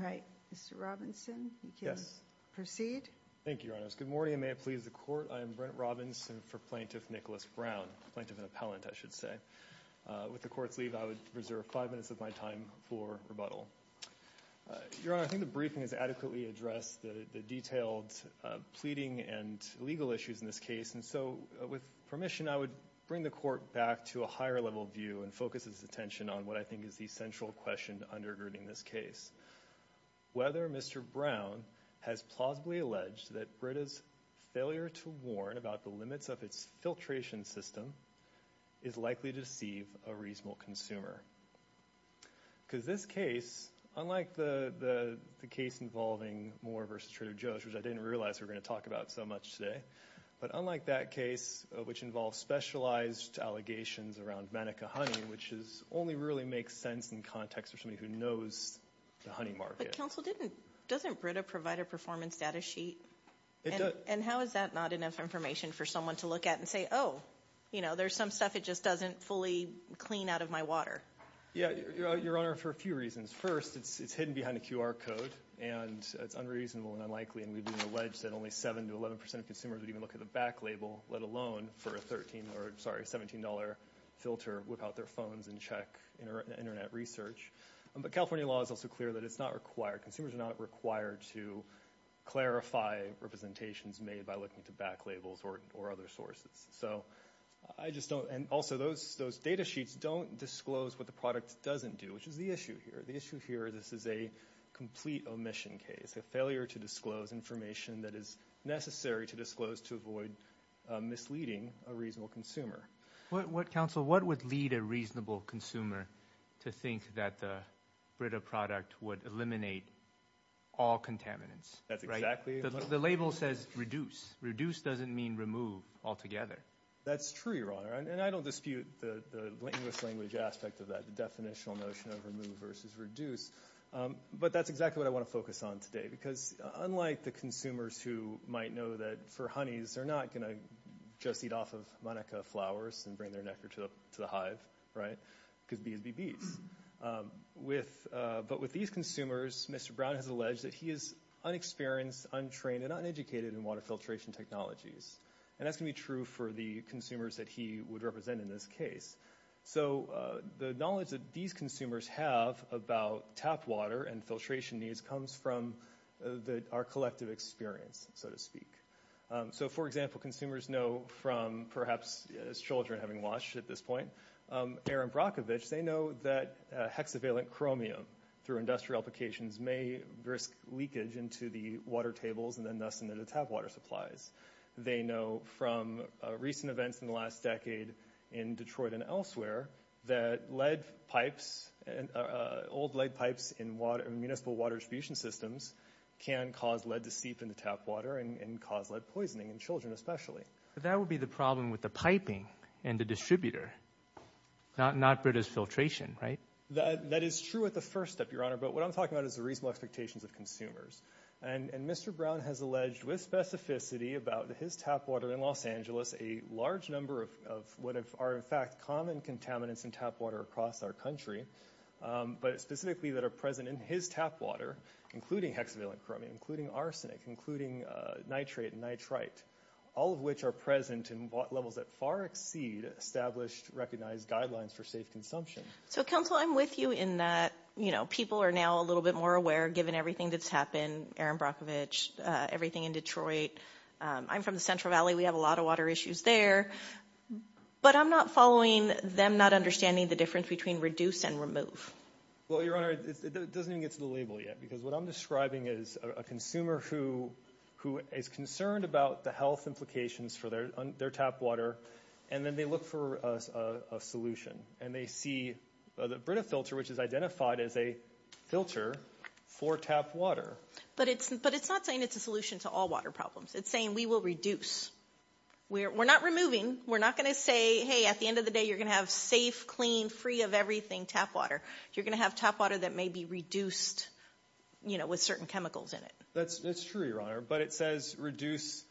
Okay, Mr Robinson. Yes. Proceed. Thank you, Your Honor. Good morning. May it please the Court. I am Brent Robinson for Plaintiff Nicholas Brown, Plaintiff and Appellant, I should say. With the Court's leave, I would reserve five minutes of my time for rebuttal. Your Honor, I think the briefing has adequately addressed the detailed pleading and legal issues in this case, and so with permission, I would bring the Court back to a higher level view and focus its attention on what I think is the central question undergirding this case. Whether Mr. Brown has plausibly alleged that Brita's failure to warn about the limits of its filtration system is likely to deceive a reasonable consumer. Because this case, unlike the case involving Moore v. Trader Joe's, which I didn't realize we're going to talk about so much today, but unlike that case, which involves specialized allegations around Mannequin Honey, which only really makes sense in context for somebody who knows the honey market. But counsel, doesn't Brita provide a performance data sheet? And how is that not enough information for someone to look at and say, oh, you know, there's some stuff it just doesn't fully clean out of my water? Yeah, Your Honor, for a few reasons. First, it's hidden behind a QR code, and it's unreasonable and unlikely, and we've been alleged that only 7 to 11 percent of consumers would even look at a back label, let alone for a $17 filter without their phones in check in internet research. But California law is also clear that it's not required. Consumers are not required to clarify representations made by looking to back labels or other sources. And also, those data sheets don't disclose what the product doesn't do, which is the issue here. The issue here, this is a complete omission case, a failure to disclose information that is necessary to avoid misleading a reasonable consumer. What, counsel, what would lead a reasonable consumer to think that the Brita product would eliminate all contaminants? That's exactly it. The label says reduce. Reduce doesn't mean remove altogether. That's true, Your Honor, and I don't dispute the English language aspect of that, the definitional notion of remove versus reduce. But that's exactly what I want to focus on today, because unlike the consumers who might know that for honeys, they're not going to just eat off of manica flowers and bring their nectar to the hive, right, because bees be bees. But with these consumers, Mr. Brown has alleged that he is unexperienced, untrained, and uneducated in water filtration technologies, and that's going to be true for the consumers that he would represent in this case. So the knowledge that these consumers have about tap water and filtration needs comes from our collective experience, so to speak. So, for example, consumers know from, perhaps as children having watched at this point, Aaron Brockovich, they know that hexavalent chromium through industrial applications may risk leakage into the water tables and then thus into the tap water supplies. They know from recent events in the last decade in Detroit and elsewhere that lead pipes, old lead pipes in municipal water distribution systems can cause lead to seep into tap water and cause lead poisoning in children especially. That would be the problem with the piping and the distributor, not British filtration, right? That is true at the first step, Your Honor, but what I'm talking about is the reasonable expectations of consumers. And Mr. Brown has alleged with specificity about his tap water in Los Angeles a large number of what are in fact common contaminants in tap water across our country, but specifically that are present in his tap water, including hexavalent chromium, including arsenic, including nitrate and nitrite, all of which are present in levels that far exceed established recognized guidelines for safe consumption. So, counsel, I'm with you in that, you know, people are now a little bit more aware given everything that's happened, Aaron Brockovich, everything in Detroit. I'm from the Central Valley. We have a lot of water issues there, but I'm not following them not understanding the difference between reduce and remove. Well, Your Honor, it doesn't even get to the label yet because what I'm describing is a consumer who is concerned about the health implications for their tap water and then they look for a solution and they see the Brita filter, which is identified as a filter for tap water. But it's not saying it's a solution to all water problems. It's saying we will reduce. We're not removing. We're not going to say, hey, at the end of the day, you're going to have safe, clean, free of everything tap water. You're going to have tap water that may be reduced, you know, with certain chemicals in it. That's true, Your Honor, but it says reduce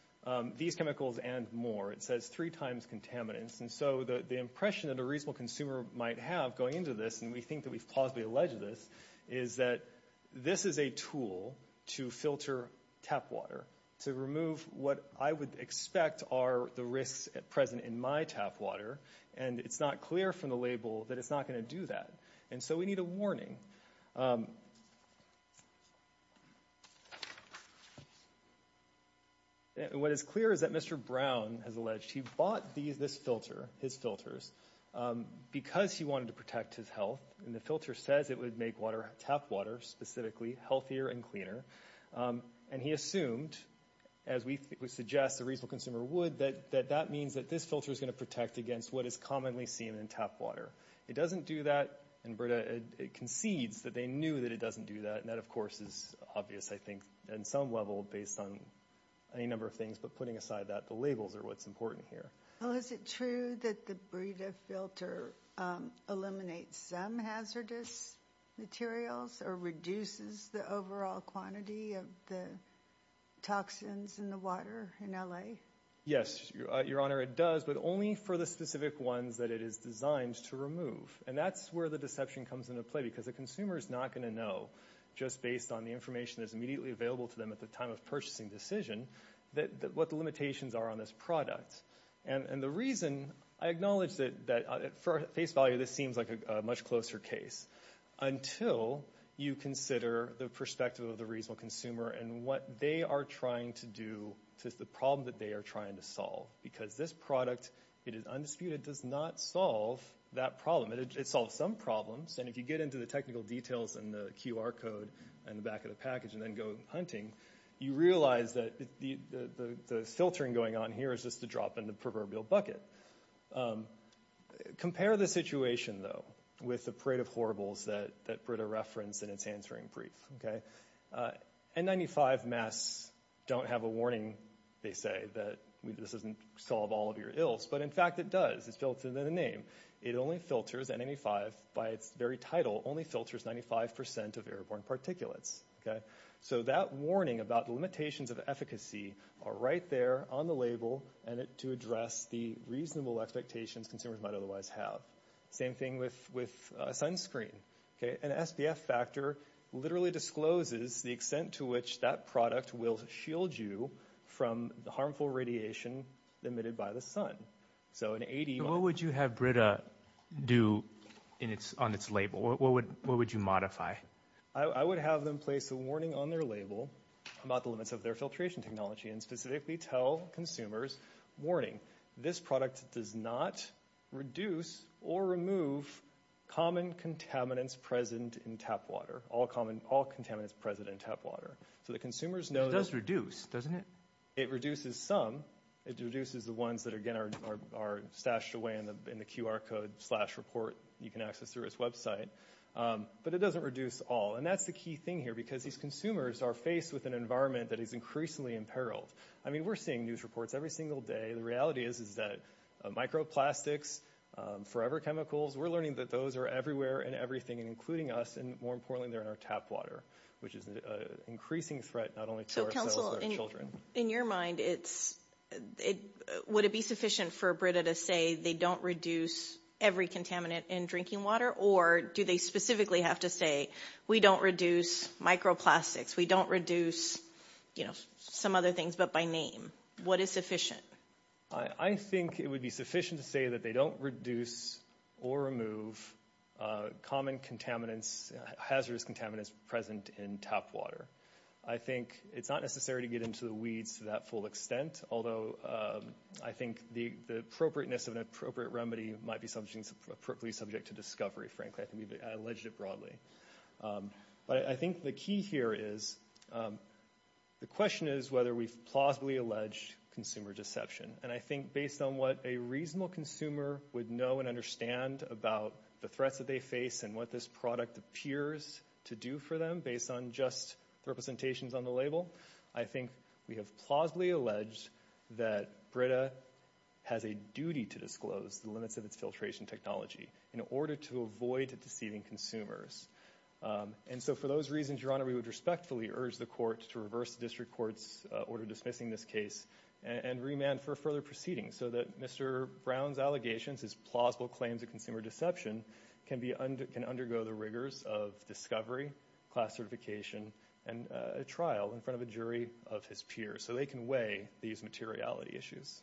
these chemicals and more. It says three times contaminants. And so the impression that a reasonable consumer might have going into this, and we think that we've plausibly alleged this, is that this is a tool to filter tap water to remove what I would expect are the risks present in my tap water. And it's not clear from the label that it's not going to do that. And so we need a warning. What is clear is that Mr. Brown has alleged he bought this filter, his filters, because he wanted to protect his health. And the filter says it would make tap water, specifically, healthier and cleaner. And he assumed, as we suggest a reasonable consumer would, that that means that this filter is going to protect against what is commonly seen in tap water. It doesn't do that, and it concedes that they knew that it doesn't do that. And that, of course, is obvious, I think, in some level, based on any number of things. But putting aside that, the labels are what's important here. Well, is it true that the Brita filter eliminates some hazardous materials or reduces the overall quantity of the toxins in the water in LA? Yes, Your Honor, it does, but only for the specific ones that it is designed to remove. And that's where the deception comes into play, because the consumer is not going to know, just based on the information that's immediately available to them at the time of purchasing decision, that what the limitations are on this product. And the reason I acknowledge that, at face value, this seems like a much closer case, until you consider the perspective of the reasonable consumer and what they are trying to do to the problem that they are trying to solve. Because this product, it is undisputed, does not solve that problem. It solves some problems, and if you get into the technical details and the QR code and the back of the package and then go hunting, you realize that the filtering going on here is just a drop in the proverbial bucket. Compare the situation, though, with the parade of horribles that Brita referenced in its answering brief. N95 masks don't have a warning, they say, that this doesn't solve all of your ills. But in fact, it does. It's filtered in a name. It only filters N95, by its very title, only filters 95% of airborne particulates. So that warning about the limitations of efficacy are right there on the label, and to address the reasonable expectations consumers might otherwise have. Same thing with sunscreen. An SPF factor literally discloses the extent to which that product will shield you from the harmful radiation emitted by the sun. So in 80... What would you have Brita do on its label? What would you modify? I would have them place a warning on their label about the limits of their filtration technology and specifically tell consumers, warning, this product does not reduce or remove common contaminants present in tap water. All contaminants present in tap water. So the consumers know... It does reduce, doesn't it? It reduces some. It reduces the ones that, again, are stashed away in the QR code slash report you can access through its website. But it doesn't reduce all. And that's the key thing here, because these consumers are faced with an environment that is increasingly imperiled. I mean, we're seeing news reports every single day. The reality is, is that microplastics, forever chemicals, we're learning that those are everywhere and everything, and including us, and more importantly, they're in our tap water, which is an increasing threat, not only to our children. In your mind, would it be sufficient for Brita to say they don't reduce every contaminant in drinking water? Or do they specifically have to say, we don't reduce microplastics, we don't reduce some other things, but by name? What is sufficient? I think it would be sufficient to say that they don't reduce or remove common contaminants, hazardous contaminants present in tap water. I think it's not necessary to get into the weeds to that full extent, although I think the appropriateness of an appropriate remedy might be something appropriately subject to discovery, frankly. I think we've alleged it broadly. But I think the key here is, the question is whether we've plausibly alleged consumer deception. And I think based on what a reasonable consumer would know and understand about the threats that they face and what this product appears to do for them, based on just representations on the label, I think we have plausibly alleged that Brita has a duty to disclose the limits of its filtration technology in order to avoid deceiving consumers. And so for those reasons, Your Honor, we would respectfully urge the court to reverse the district court's order dismissing this case and remand for further proceedings so that Mr. Brown's allegations, his plausible claims of consumer deception, can undergo the rigors of discovery, class certification, and a trial in front of a jury of his peers so they can weigh these materiality issues.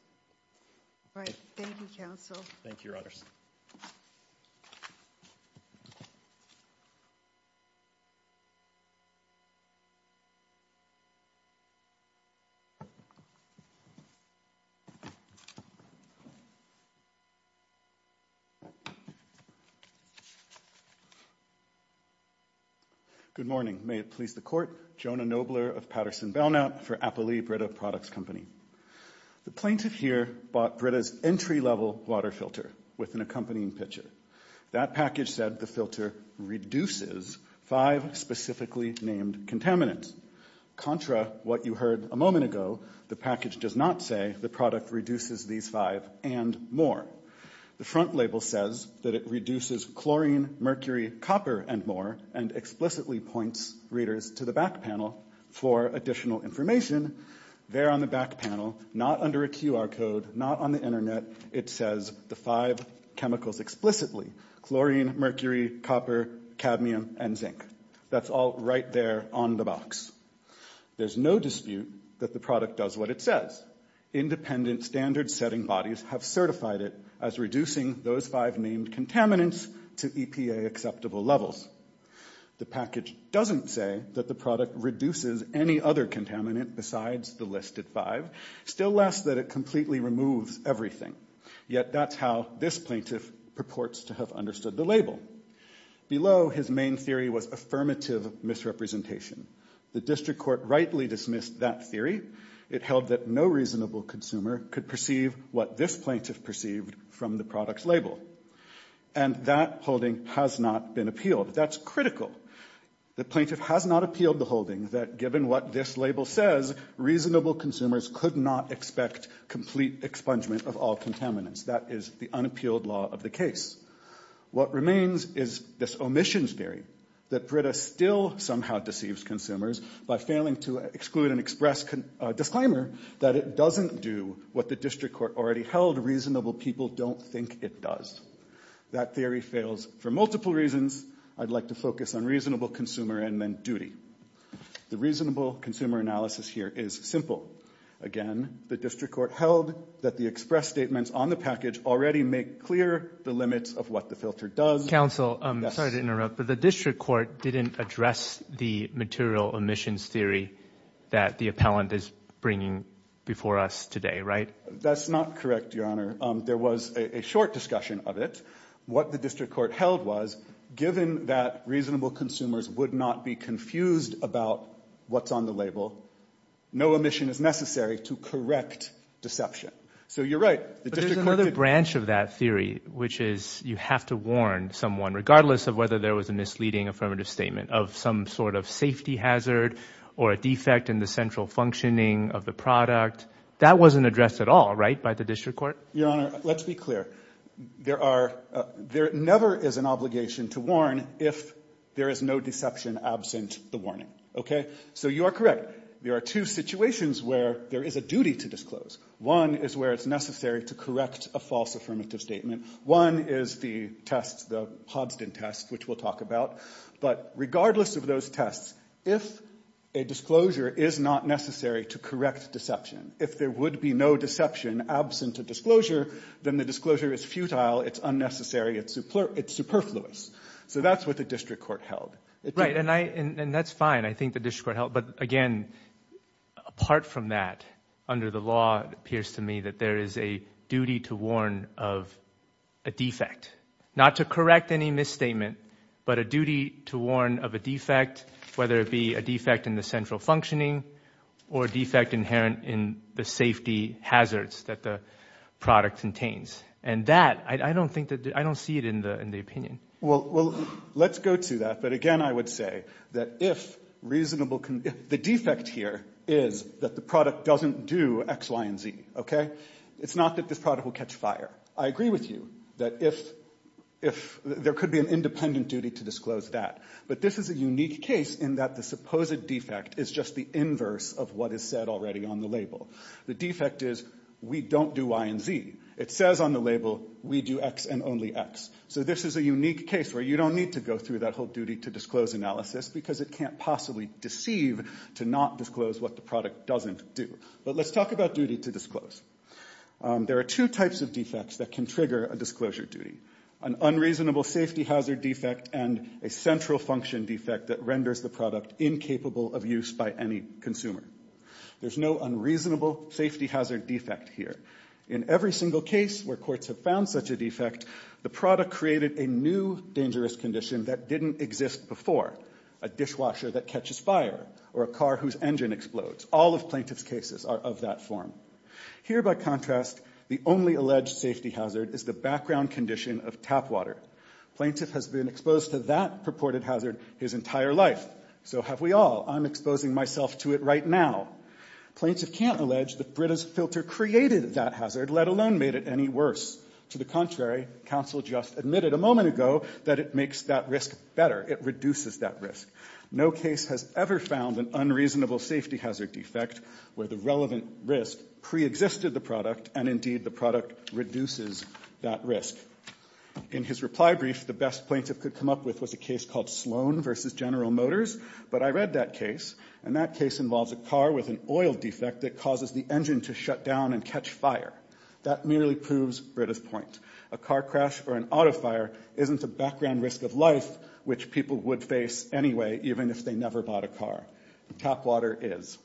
All right. Thank you, counsel. Thank you, Your Honors. Good morning. May it please the court. Jonah Nobler of Patterson Belknap for Applee Brita Products Company. The plaintiff here bought Brita's entry-level water filter with an accompanying picture. That package said the filter reduces five specifically named contaminants. Contra what you heard a moment ago, the package does not say the product reduces these five and more. The front label says that it reduces chlorine, mercury, copper, and more, and explicitly points readers to the back panel for additional information. There on the back panel, not under a QR code, not on the internet, it says the five chemicals explicitly, chlorine, mercury, copper, cadmium, and zinc. That's all right there on the box. There's no dispute that product does what it says. Independent standard setting bodies have certified it as reducing those five named contaminants to EPA acceptable levels. The package doesn't say that the product reduces any other contaminant besides the listed five, still less that it completely removes everything. Yet that's how this plaintiff purports to have understood the label. Below his main theory was affirmative misrepresentation. The district court rightly dismissed that theory. It held that no reasonable consumer could perceive what this plaintiff perceived from the product's label. And that holding has not been appealed. That's critical. The plaintiff has not appealed the holding that given what this label says, reasonable consumers could not expect complete expungement of all contaminants. That is the unappealed law of the case. What remains is this omissions theory, that Prita still somehow deceives consumers by failing to exclude an express disclaimer that it doesn't do what the district court already held reasonable people don't think it does. That theory fails for multiple reasons. I'd like to focus on reasonable consumer and then duty. The reasonable consumer analysis here is simple. Again, the district court held that the express statements on the package already make clear the limits of what the filter does. Counsel, I'm sorry to interrupt, but the district court didn't address the material omissions theory that the appellant is bringing before us today, right? That's not correct, Your Honor. There was a short discussion of it. What the district court held was given that reasonable consumers would not be confused about what's on the label, no omission is necessary to correct deception. So you're right. There's another branch of that theory, which is you have to warn someone, regardless of whether there was a misleading affirmative statement of some sort of safety hazard or a defect in the central functioning of the product. That wasn't addressed at all, right, by the district court? Your Honor, let's be clear. There never is an obligation to warn if there is no deception absent the warning, okay? So you are correct. There are two situations where there is a duty to disclose. One is where it's necessary to correct a false affirmative statement. One is the test, the Hobson test, which we'll talk about. But regardless of those tests, if a disclosure is not necessary to correct deception, if there would be no deception absent a disclosure, then the disclosure is futile, it's unnecessary, it's superfluous. So that's what the district court held. Right, and that's fine, I think the district court held. But again, apart from that, under the law, it appears to me that there is a duty to warn of a defect. Not to correct any misstatement, but a duty to warn of a defect, whether it be a defect in the central functioning or defect inherent in the safety hazards that the product contains. And that, I don't think that, I don't see it in the opinion. Well, let's go to that. But again, I would say that if reasonable, the defect here is that the product doesn't do X, Y, and Z, okay? It's not that this product will catch fire. I agree with you that if, there could be an independent duty to disclose that. But this is a unique case in that the supposed defect is just the inverse of what is said already on the label. The defect is, we don't do Y and Z. It says on the label, we do X and only X. So this is a unique case where you don't need to go through that whole duty to disclose analysis because it can't possibly deceive to not disclose what the product doesn't do. But let's talk about duty to disclose. There are two types of defects that can trigger a disclosure duty. An unreasonable safety hazard defect and a central function defect that renders the product incapable of use by any consumer. There's no unreasonable safety hazard defect here. In every single case where courts have found such a defect, the product created a new dangerous condition that didn't exist before. A dishwasher that catches fire or a car whose engine explodes. All of plaintiff's cases are of that form. Here, by contrast, the only alleged safety hazard is the background condition of tap water. Plaintiff has been exposed to that purported hazard his entire life. So have we all. I'm exposing myself to it right now. Plaintiff can't allege that Brita's filter created that hazard, let alone made it any worse. To the contrary, counsel just admitted a moment ago that it makes that risk better. It reduces that risk. No case has ever found an unreasonable safety hazard defect where the relevant risk pre-existed the product and indeed the product reduces that risk. In his reply brief, the best plaintiff could come up with was a case called Sloan versus General Motors. But I read that case and that case involves a car with an oil defect that causes the engine to shut down and catch fire. That merely proves Brita's point. A car crash or an auto fire isn't a background risk of life, which people would face anyway, even if they never bought a car. Tap water is.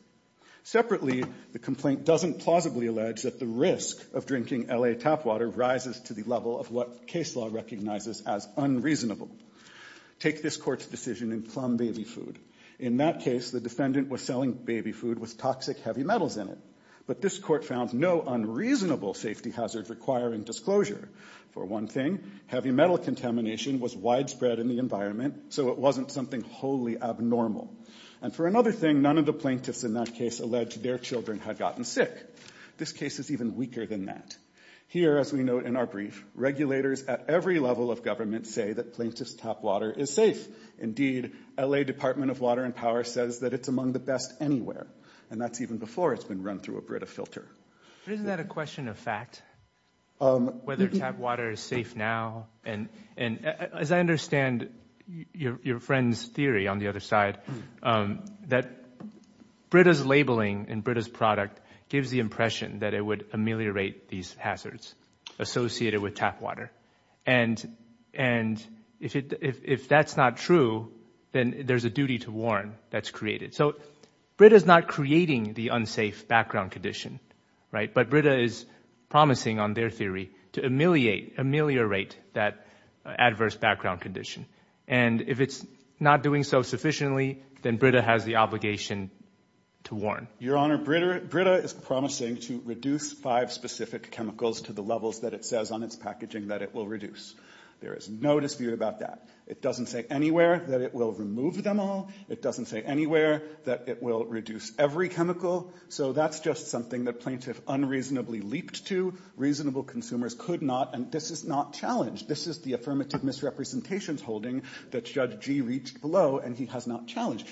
Separately, the complaint doesn't plausibly allege that the risk of drinking L.A. tap water rises to the level of what case law recognizes as unreasonable. Take this court's decision in plum baby food. In that case, the defendant was selling baby food with toxic heavy metals in it. But this court found no unreasonable safety hazard requiring disclosure. For one thing, heavy metal contamination was widespread in the environment, so it wasn't something wholly abnormal. And for another thing, none of the plaintiffs in that case alleged their children had gotten sick. This case is even weaker than that. Here, as we note in our brief, regulators at every level of government say that plaintiff's tap water is safe. Indeed, L.A. Department of Water and Power says that it's among the best anywhere and that's even before it's been run through a Brita filter. But isn't that a question of fact, whether tap water is safe now? And as I understand your friend's theory on the other side, that Brita's labeling and Brita's product gives the impression that it would ameliorate these hazards associated with tap water. And if that's not true, then there's a duty to warn that's created. So Brita's not creating the unsafe background condition, right? But Brita is promising on their theory to ameliorate that adverse background condition. And if it's not doing so sufficiently, then Brita has the obligation to warn. Your Honor, Brita is promising to reduce five specific chemicals to the levels that it says on its packaging that it will reduce. There is no dispute about that. It doesn't say anywhere that it will remove them all. It doesn't say anywhere that it will reduce every chemical. So that's just something that plaintiff unreasonably leaped to. Reasonable consumers could not, and this is not challenged. This is the affirmative misrepresentations holding that Judge Gee reached below and he has not challenged.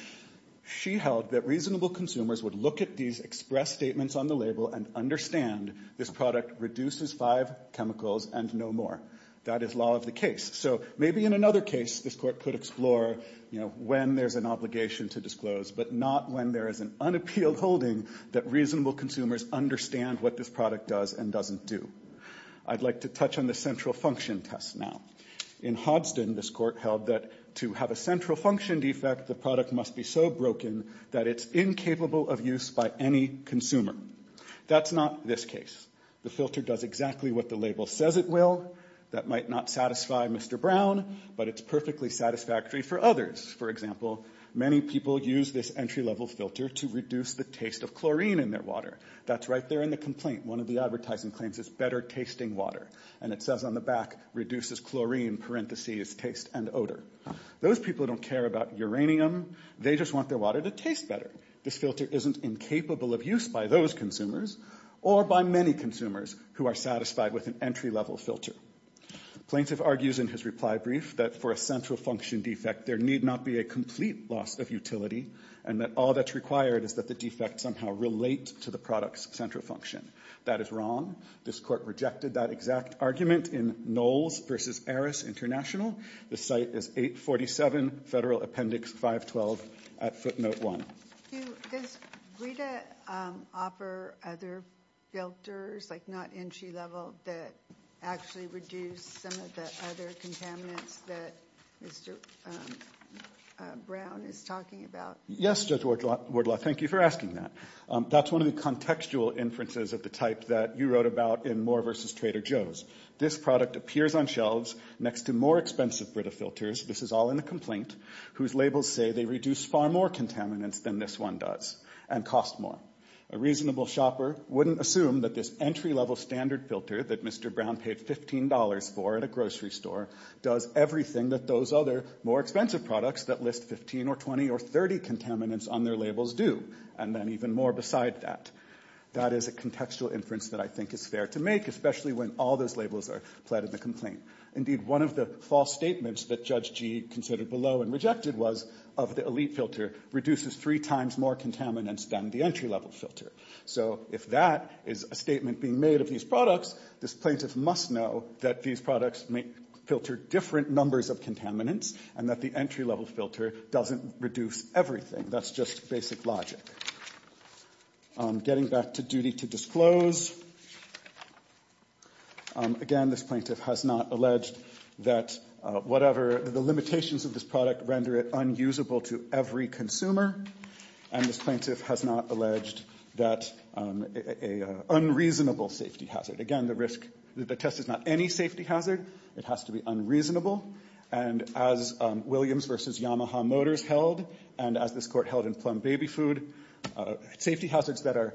She held that reasonable consumers would look at these express statements on the label and understand this product reduces five chemicals and no more. That is law of the case. So maybe in another case, this court could explore when there's an obligation to disclose, but not when there is an unappealed holding that reasonable consumers understand what this product does and doesn't do. I'd like to touch on the central function test now. In Hodgson, this court held that to have a central function defect, the product must be so broken that it's incapable of use by any consumer. That's not this case. The filter does exactly what the label says it will. That might not satisfy Mr. Brown, but it's perfectly satisfactory for others. For example, many people use this entry level filter to reduce the taste of chlorine in their water. That's right there in the complaint. One of the advertising claims is better tasting water. And it says on the back, reduces chlorine, parentheses, taste and odor. Those people don't care about uranium. They just want their water to taste better. This filter isn't incapable of use by those consumers or by many consumers who are satisfied with an entry level filter. Plaintiff argues in his reply brief that for a central function defect, there need not be a complete loss of utility and that all that's required is that the defect somehow relate to the product's central function. That is wrong. This court rejected that exact argument in Knowles versus Aris International. The site is 847, Federal Appendix 512 at footnote 1. Does BRITA offer other filters, like not entry level, that actually reduce some of the other contaminants that Mr. Brown is talking about? Yes, Judge Wardlaw. Thank you for asking that. That's one of the contextual inferences of the type that you wrote about in Moore versus Trader Joe's. This product appears on shelves next to more expensive BRITA filters, this is all in the complaint, whose labels say they reduce far more contaminants than this one does and cost more. A reasonable shopper wouldn't assume that this entry level standard filter that Mr. Brown paid $15 for at a grocery store does everything that those other more expensive products that list 15 or 20 or 30 contaminants on their labels do and then even more beside that. That is a contextual inference that I think is fair to make, especially when all those labels are pled in the complaint. Indeed, one of the false statements that Judge Gee considered below and rejected was of the elite filter reduces three times more contaminants than the entry level filter. So if that is a statement being made of these products, this plaintiff must know that these products may filter different numbers of contaminants and that the entry level filter doesn't reduce everything. That's just basic logic. Getting back to duty to disclose. Again, this plaintiff has not alleged that whatever the limitations of this product render it unusable to every consumer and this plaintiff has not alleged that an unreasonable safety hazard. Again, the risk, the test is not any safety hazard, it has to be unreasonable and as Williams versus Yamaha Motors held and as this court held in Plum Baby Food, safety hazards that are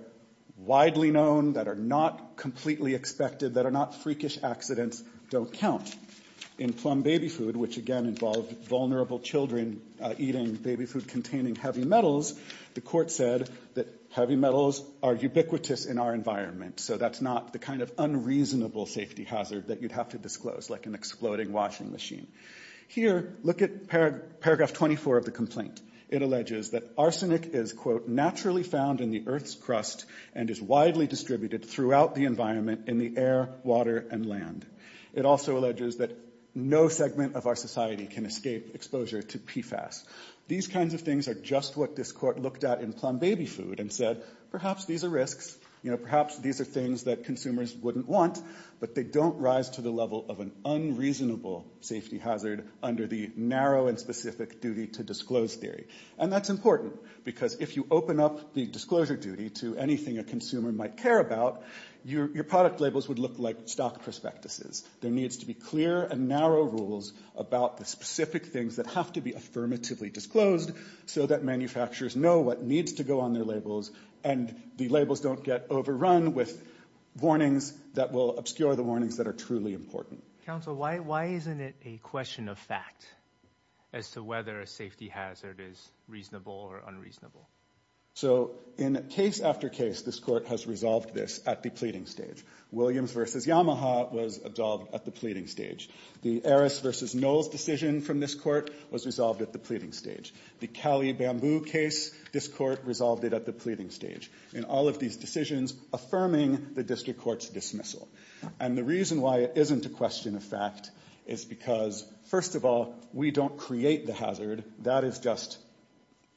widely known, that are not completely expected, that are not freakish accidents don't count. In Plum Baby Food, which again involved vulnerable children eating baby food containing heavy metals, the court said that heavy metals are ubiquitous in our environment. So that's not the kind of unreasonable safety hazard that you'd have to disclose, like an exploding washing machine. Here, look at paragraph 24 of the complaint. It alleges that arsenic is, quote, naturally found in the earth's crust and is widely distributed throughout the environment in the air, water, and land. It also alleges that no segment of our society can escape exposure to PFAS. These kinds of things are just what this court looked at in Plum Baby Food and said, perhaps these are risks, you know, perhaps these are things that consumers wouldn't want, but they don't rise to the level of an unreasonable safety hazard under the narrow and specific duty to disclose theory. And that's important because if you open up the disclosure duty to anything a consumer might care about, your product labels would look like stock prospectuses. There needs to be clear and narrow rules about the specific things that have to be affirmatively disclosed so that manufacturers know what needs to go on their labels and the labels don't get overrun with warnings that will obscure the warnings that are truly important. Counsel, why isn't it a question of fact as to whether a safety hazard is reasonable or unreasonable? So, in case after case, this court has resolved this at the pleading stage. Williams versus Yamaha was absolved at the pleading stage. The Aris versus Knowles decision from this court was resolved at the pleading stage. The Cali Bamboo case, this court resolved it at the pleading stage. In all these decisions, affirming the district court's dismissal. And the reason why it isn't a question of fact is because, first of all, we don't create the hazard. That is just,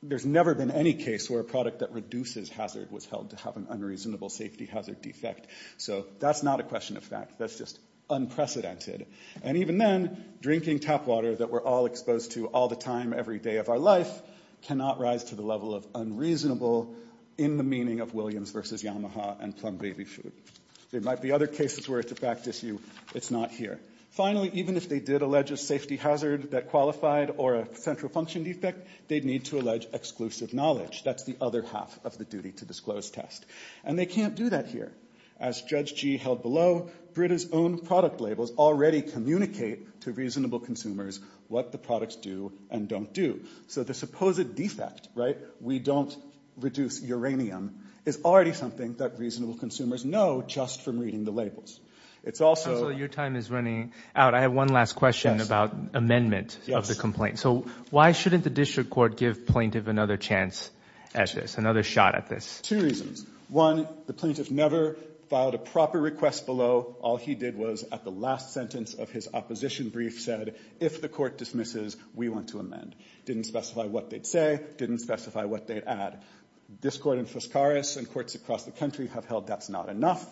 there's never been any case where a product that reduces hazard was held to have an unreasonable safety hazard defect. So, that's not a question of fact. That's just unprecedented. And even then, drinking tap water that we're all exposed to all the time every day of our life cannot rise to the level of unreasonable in the meaning of Williams versus Yamaha and plum baby food. There might be other cases where it's a fact issue. It's not here. Finally, even if they did allege a safety hazard that qualified or a central function defect, they'd need to allege exclusive knowledge. That's the other half of the duty to disclose test. And they can't do that here. As Judge Gee held below, Brita's own product labels already communicate to reasonable consumers what the products do and don't do. So, the supposed defect, right, we don't reduce uranium, is already something that reasonable consumers know just from reading the labels. It's also... Counselor, your time is running out. I have one last question about amendment of the complaint. So, why shouldn't the district court give plaintiff another chance at this, another shot at this? Two reasons. One, the plaintiff never filed a proper request below. All he did was at the last sentence of his opposition brief said, if the court dismisses, we want to amend. Didn't specify what they'd say. Didn't specify what they'd add. This court in Fuscares and courts across the country have held that's not enough.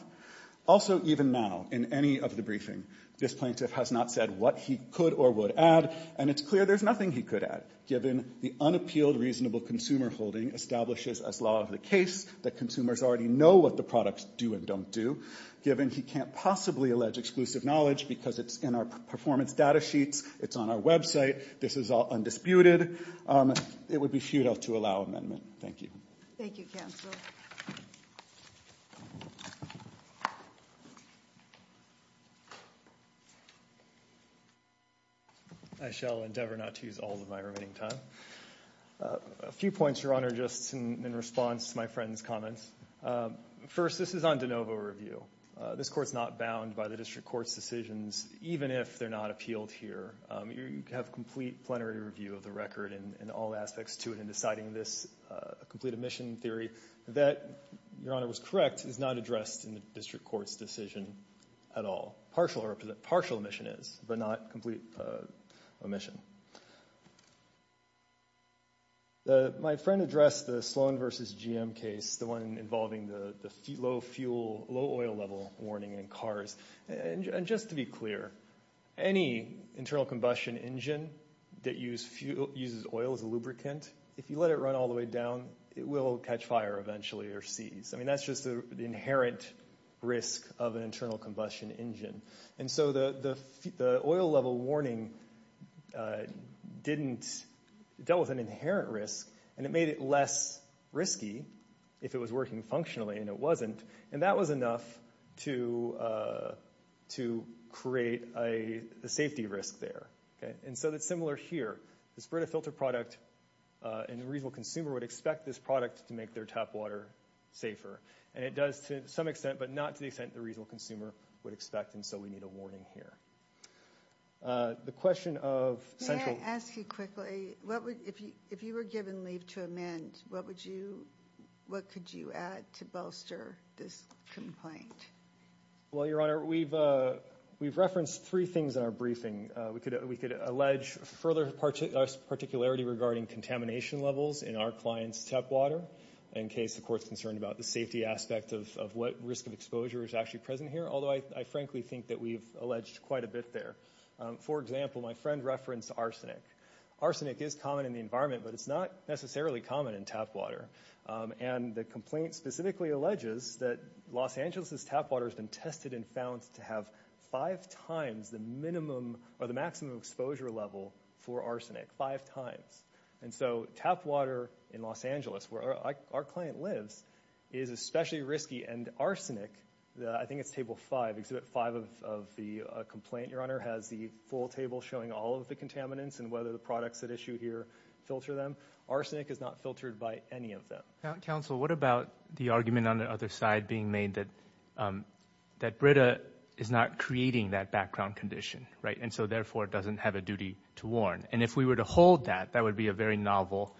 Also, even now, in any of the briefing, this plaintiff has not said what he could or would add. And it's clear there's nothing he could add, given the unappealed reasonable consumer holding establishes as law of the case that consumers already know what the products do and don't do. Given he can't possibly allege exclusive knowledge because it's in our performance data sheets, it's on our website, this is all undisputed, it would be futile to allow amendment. Thank you. Thank you, Counselor. I shall endeavor not to use all of my remaining time. A few points, Your Honor, just in response to my friend's comments. First, this is on de novo review. This court's not bound by the district court's decisions, even if they're not appealed here. You have complete plenary review of the record and all aspects to it in deciding this complete omission theory that, Your Honor was correct, is not addressed in the district court's decision at all. Partial omission is, but not complete omission. My friend addressed the Sloan v. GM case, the one involving the low fuel, low oil level warning in cars. And just to be clear, any internal combustion engine that uses oil as a lubricant, if you let it run all the way down, it will catch fire eventually or seize. I mean, that's just the inherent risk of an internal combustion engine. And so the oil level warning didn't, dealt with an inherent risk and it made it less risky if it was working functionally and it wasn't. And that was enough to create a safety risk there. And so that's similar here, the spread of filter product and the reasonable consumer would expect this product to make their tap water safer. And it does to some extent, but not to the extent the reasonable consumer would expect. And so we need a warning here. The question of central... I want to ask you quickly, if you were given leave to amend, what would you, what could you add to bolster this complaint? Well, Your Honor, we've referenced three things in our briefing. We could allege further particularity regarding contamination levels in our client's tap water in case the court's concerned about the safety aspect of what risk of exposure is actually present here. Although I frankly think that we've alleged quite a bit there. For example, my friend referenced arsenic. Arsenic is common in the environment, but it's not necessarily common in tap water. And the complaint specifically alleges that Los Angeles's tap water has been tested and found to have five times the minimum or the maximum exposure level for arsenic, five times. And so tap water in Los Angeles where our client lives is especially risky. And arsenic, I think it's table five, exhibit five of the complaint, Your Honor, has the full table showing all of the contaminants and whether the products that issue here filter them. Arsenic is not filtered by any of them. Counsel, what about the argument on the other side being made that Brita is not creating that background condition, right? And so therefore it doesn't have a duty to warn. And if we were to hold that, that would be a very novel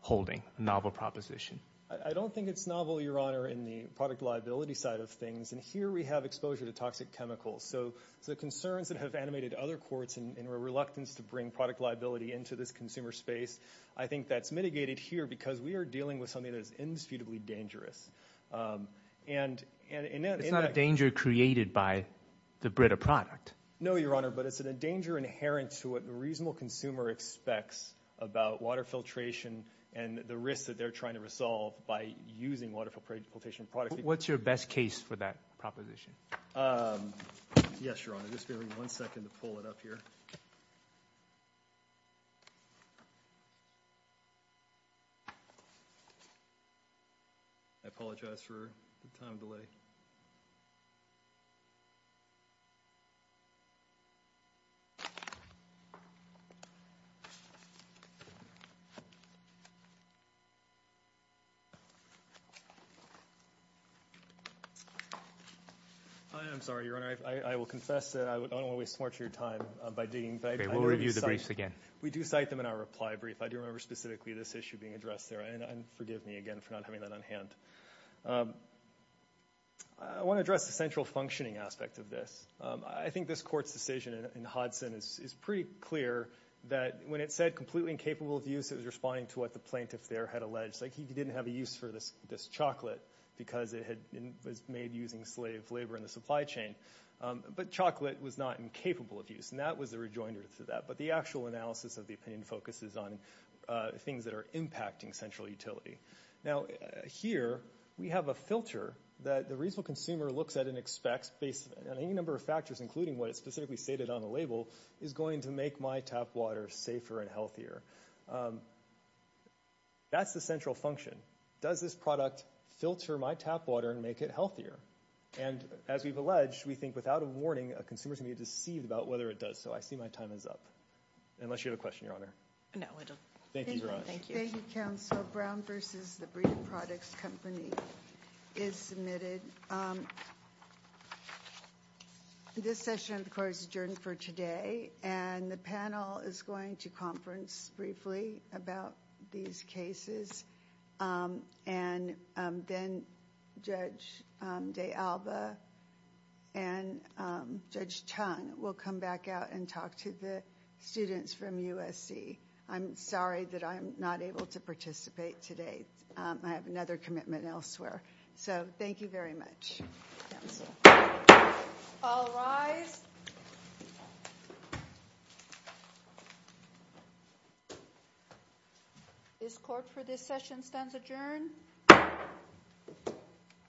holding, novel proposition. I don't think it's novel, Your Honor, in the product liability side of things. And here we have exposure to toxic chemicals. So the concerns that have animated other courts in a reluctance to bring product liability into this consumer space, I think that's mitigated here because we are dealing with something that is indisputably dangerous. It's not a danger created by the Brita product. No, Your Honor, but it's a danger inherent to what the filtration and the risks that they're trying to resolve by using water filtration products. What's your best case for that proposition? Yes, Your Honor. Just give me one second to pull it up here. I apologize for the time delay. Hi, I'm sorry, Your Honor. I will confess that I don't want to waste much of your time by digging. We'll review the briefs again. We do cite them in our reply brief. I do remember specifically this issue being addressed there. And forgive me again for not having that on hand. I want to address the central functioning aspect of this. I think this court's decision in Hodson is pretty clear that when it said completely incapable of use, it was responding to what the plaintiff there had alleged. He didn't have a use for this chocolate because it was made using slave labor in the supply chain. But chocolate was not incapable of use, and that was the rejoinder to that. But the actual analysis of the opinion focuses on things that are impacting central utility. Now, here we have a filter that the reasonable consumer looks at and expects based on any number of factors, including what is specifically stated on the label, is going to make my tap water safer and healthier. That's the central function. Does this product filter my tap water and make it healthier? And as we've alleged, we think without a warning, a consumer is going to be deceived about whether it does. So I see my time is up, unless you have a question, Your Honor. No, I don't. Thank you, Your Honor. Thank you, counsel. Brown v. The Breeding Products Company is submitted. This session, of course, is adjourned for today, and the panel is going to conference briefly about these cases, and then Judge DeAlba and Judge Chun will come back out and talk to the students from USC. I'm sorry that I'm not able to participate today. I have another commitment elsewhere. So thank you very much, counsel. All rise. This court for this session stands adjourned.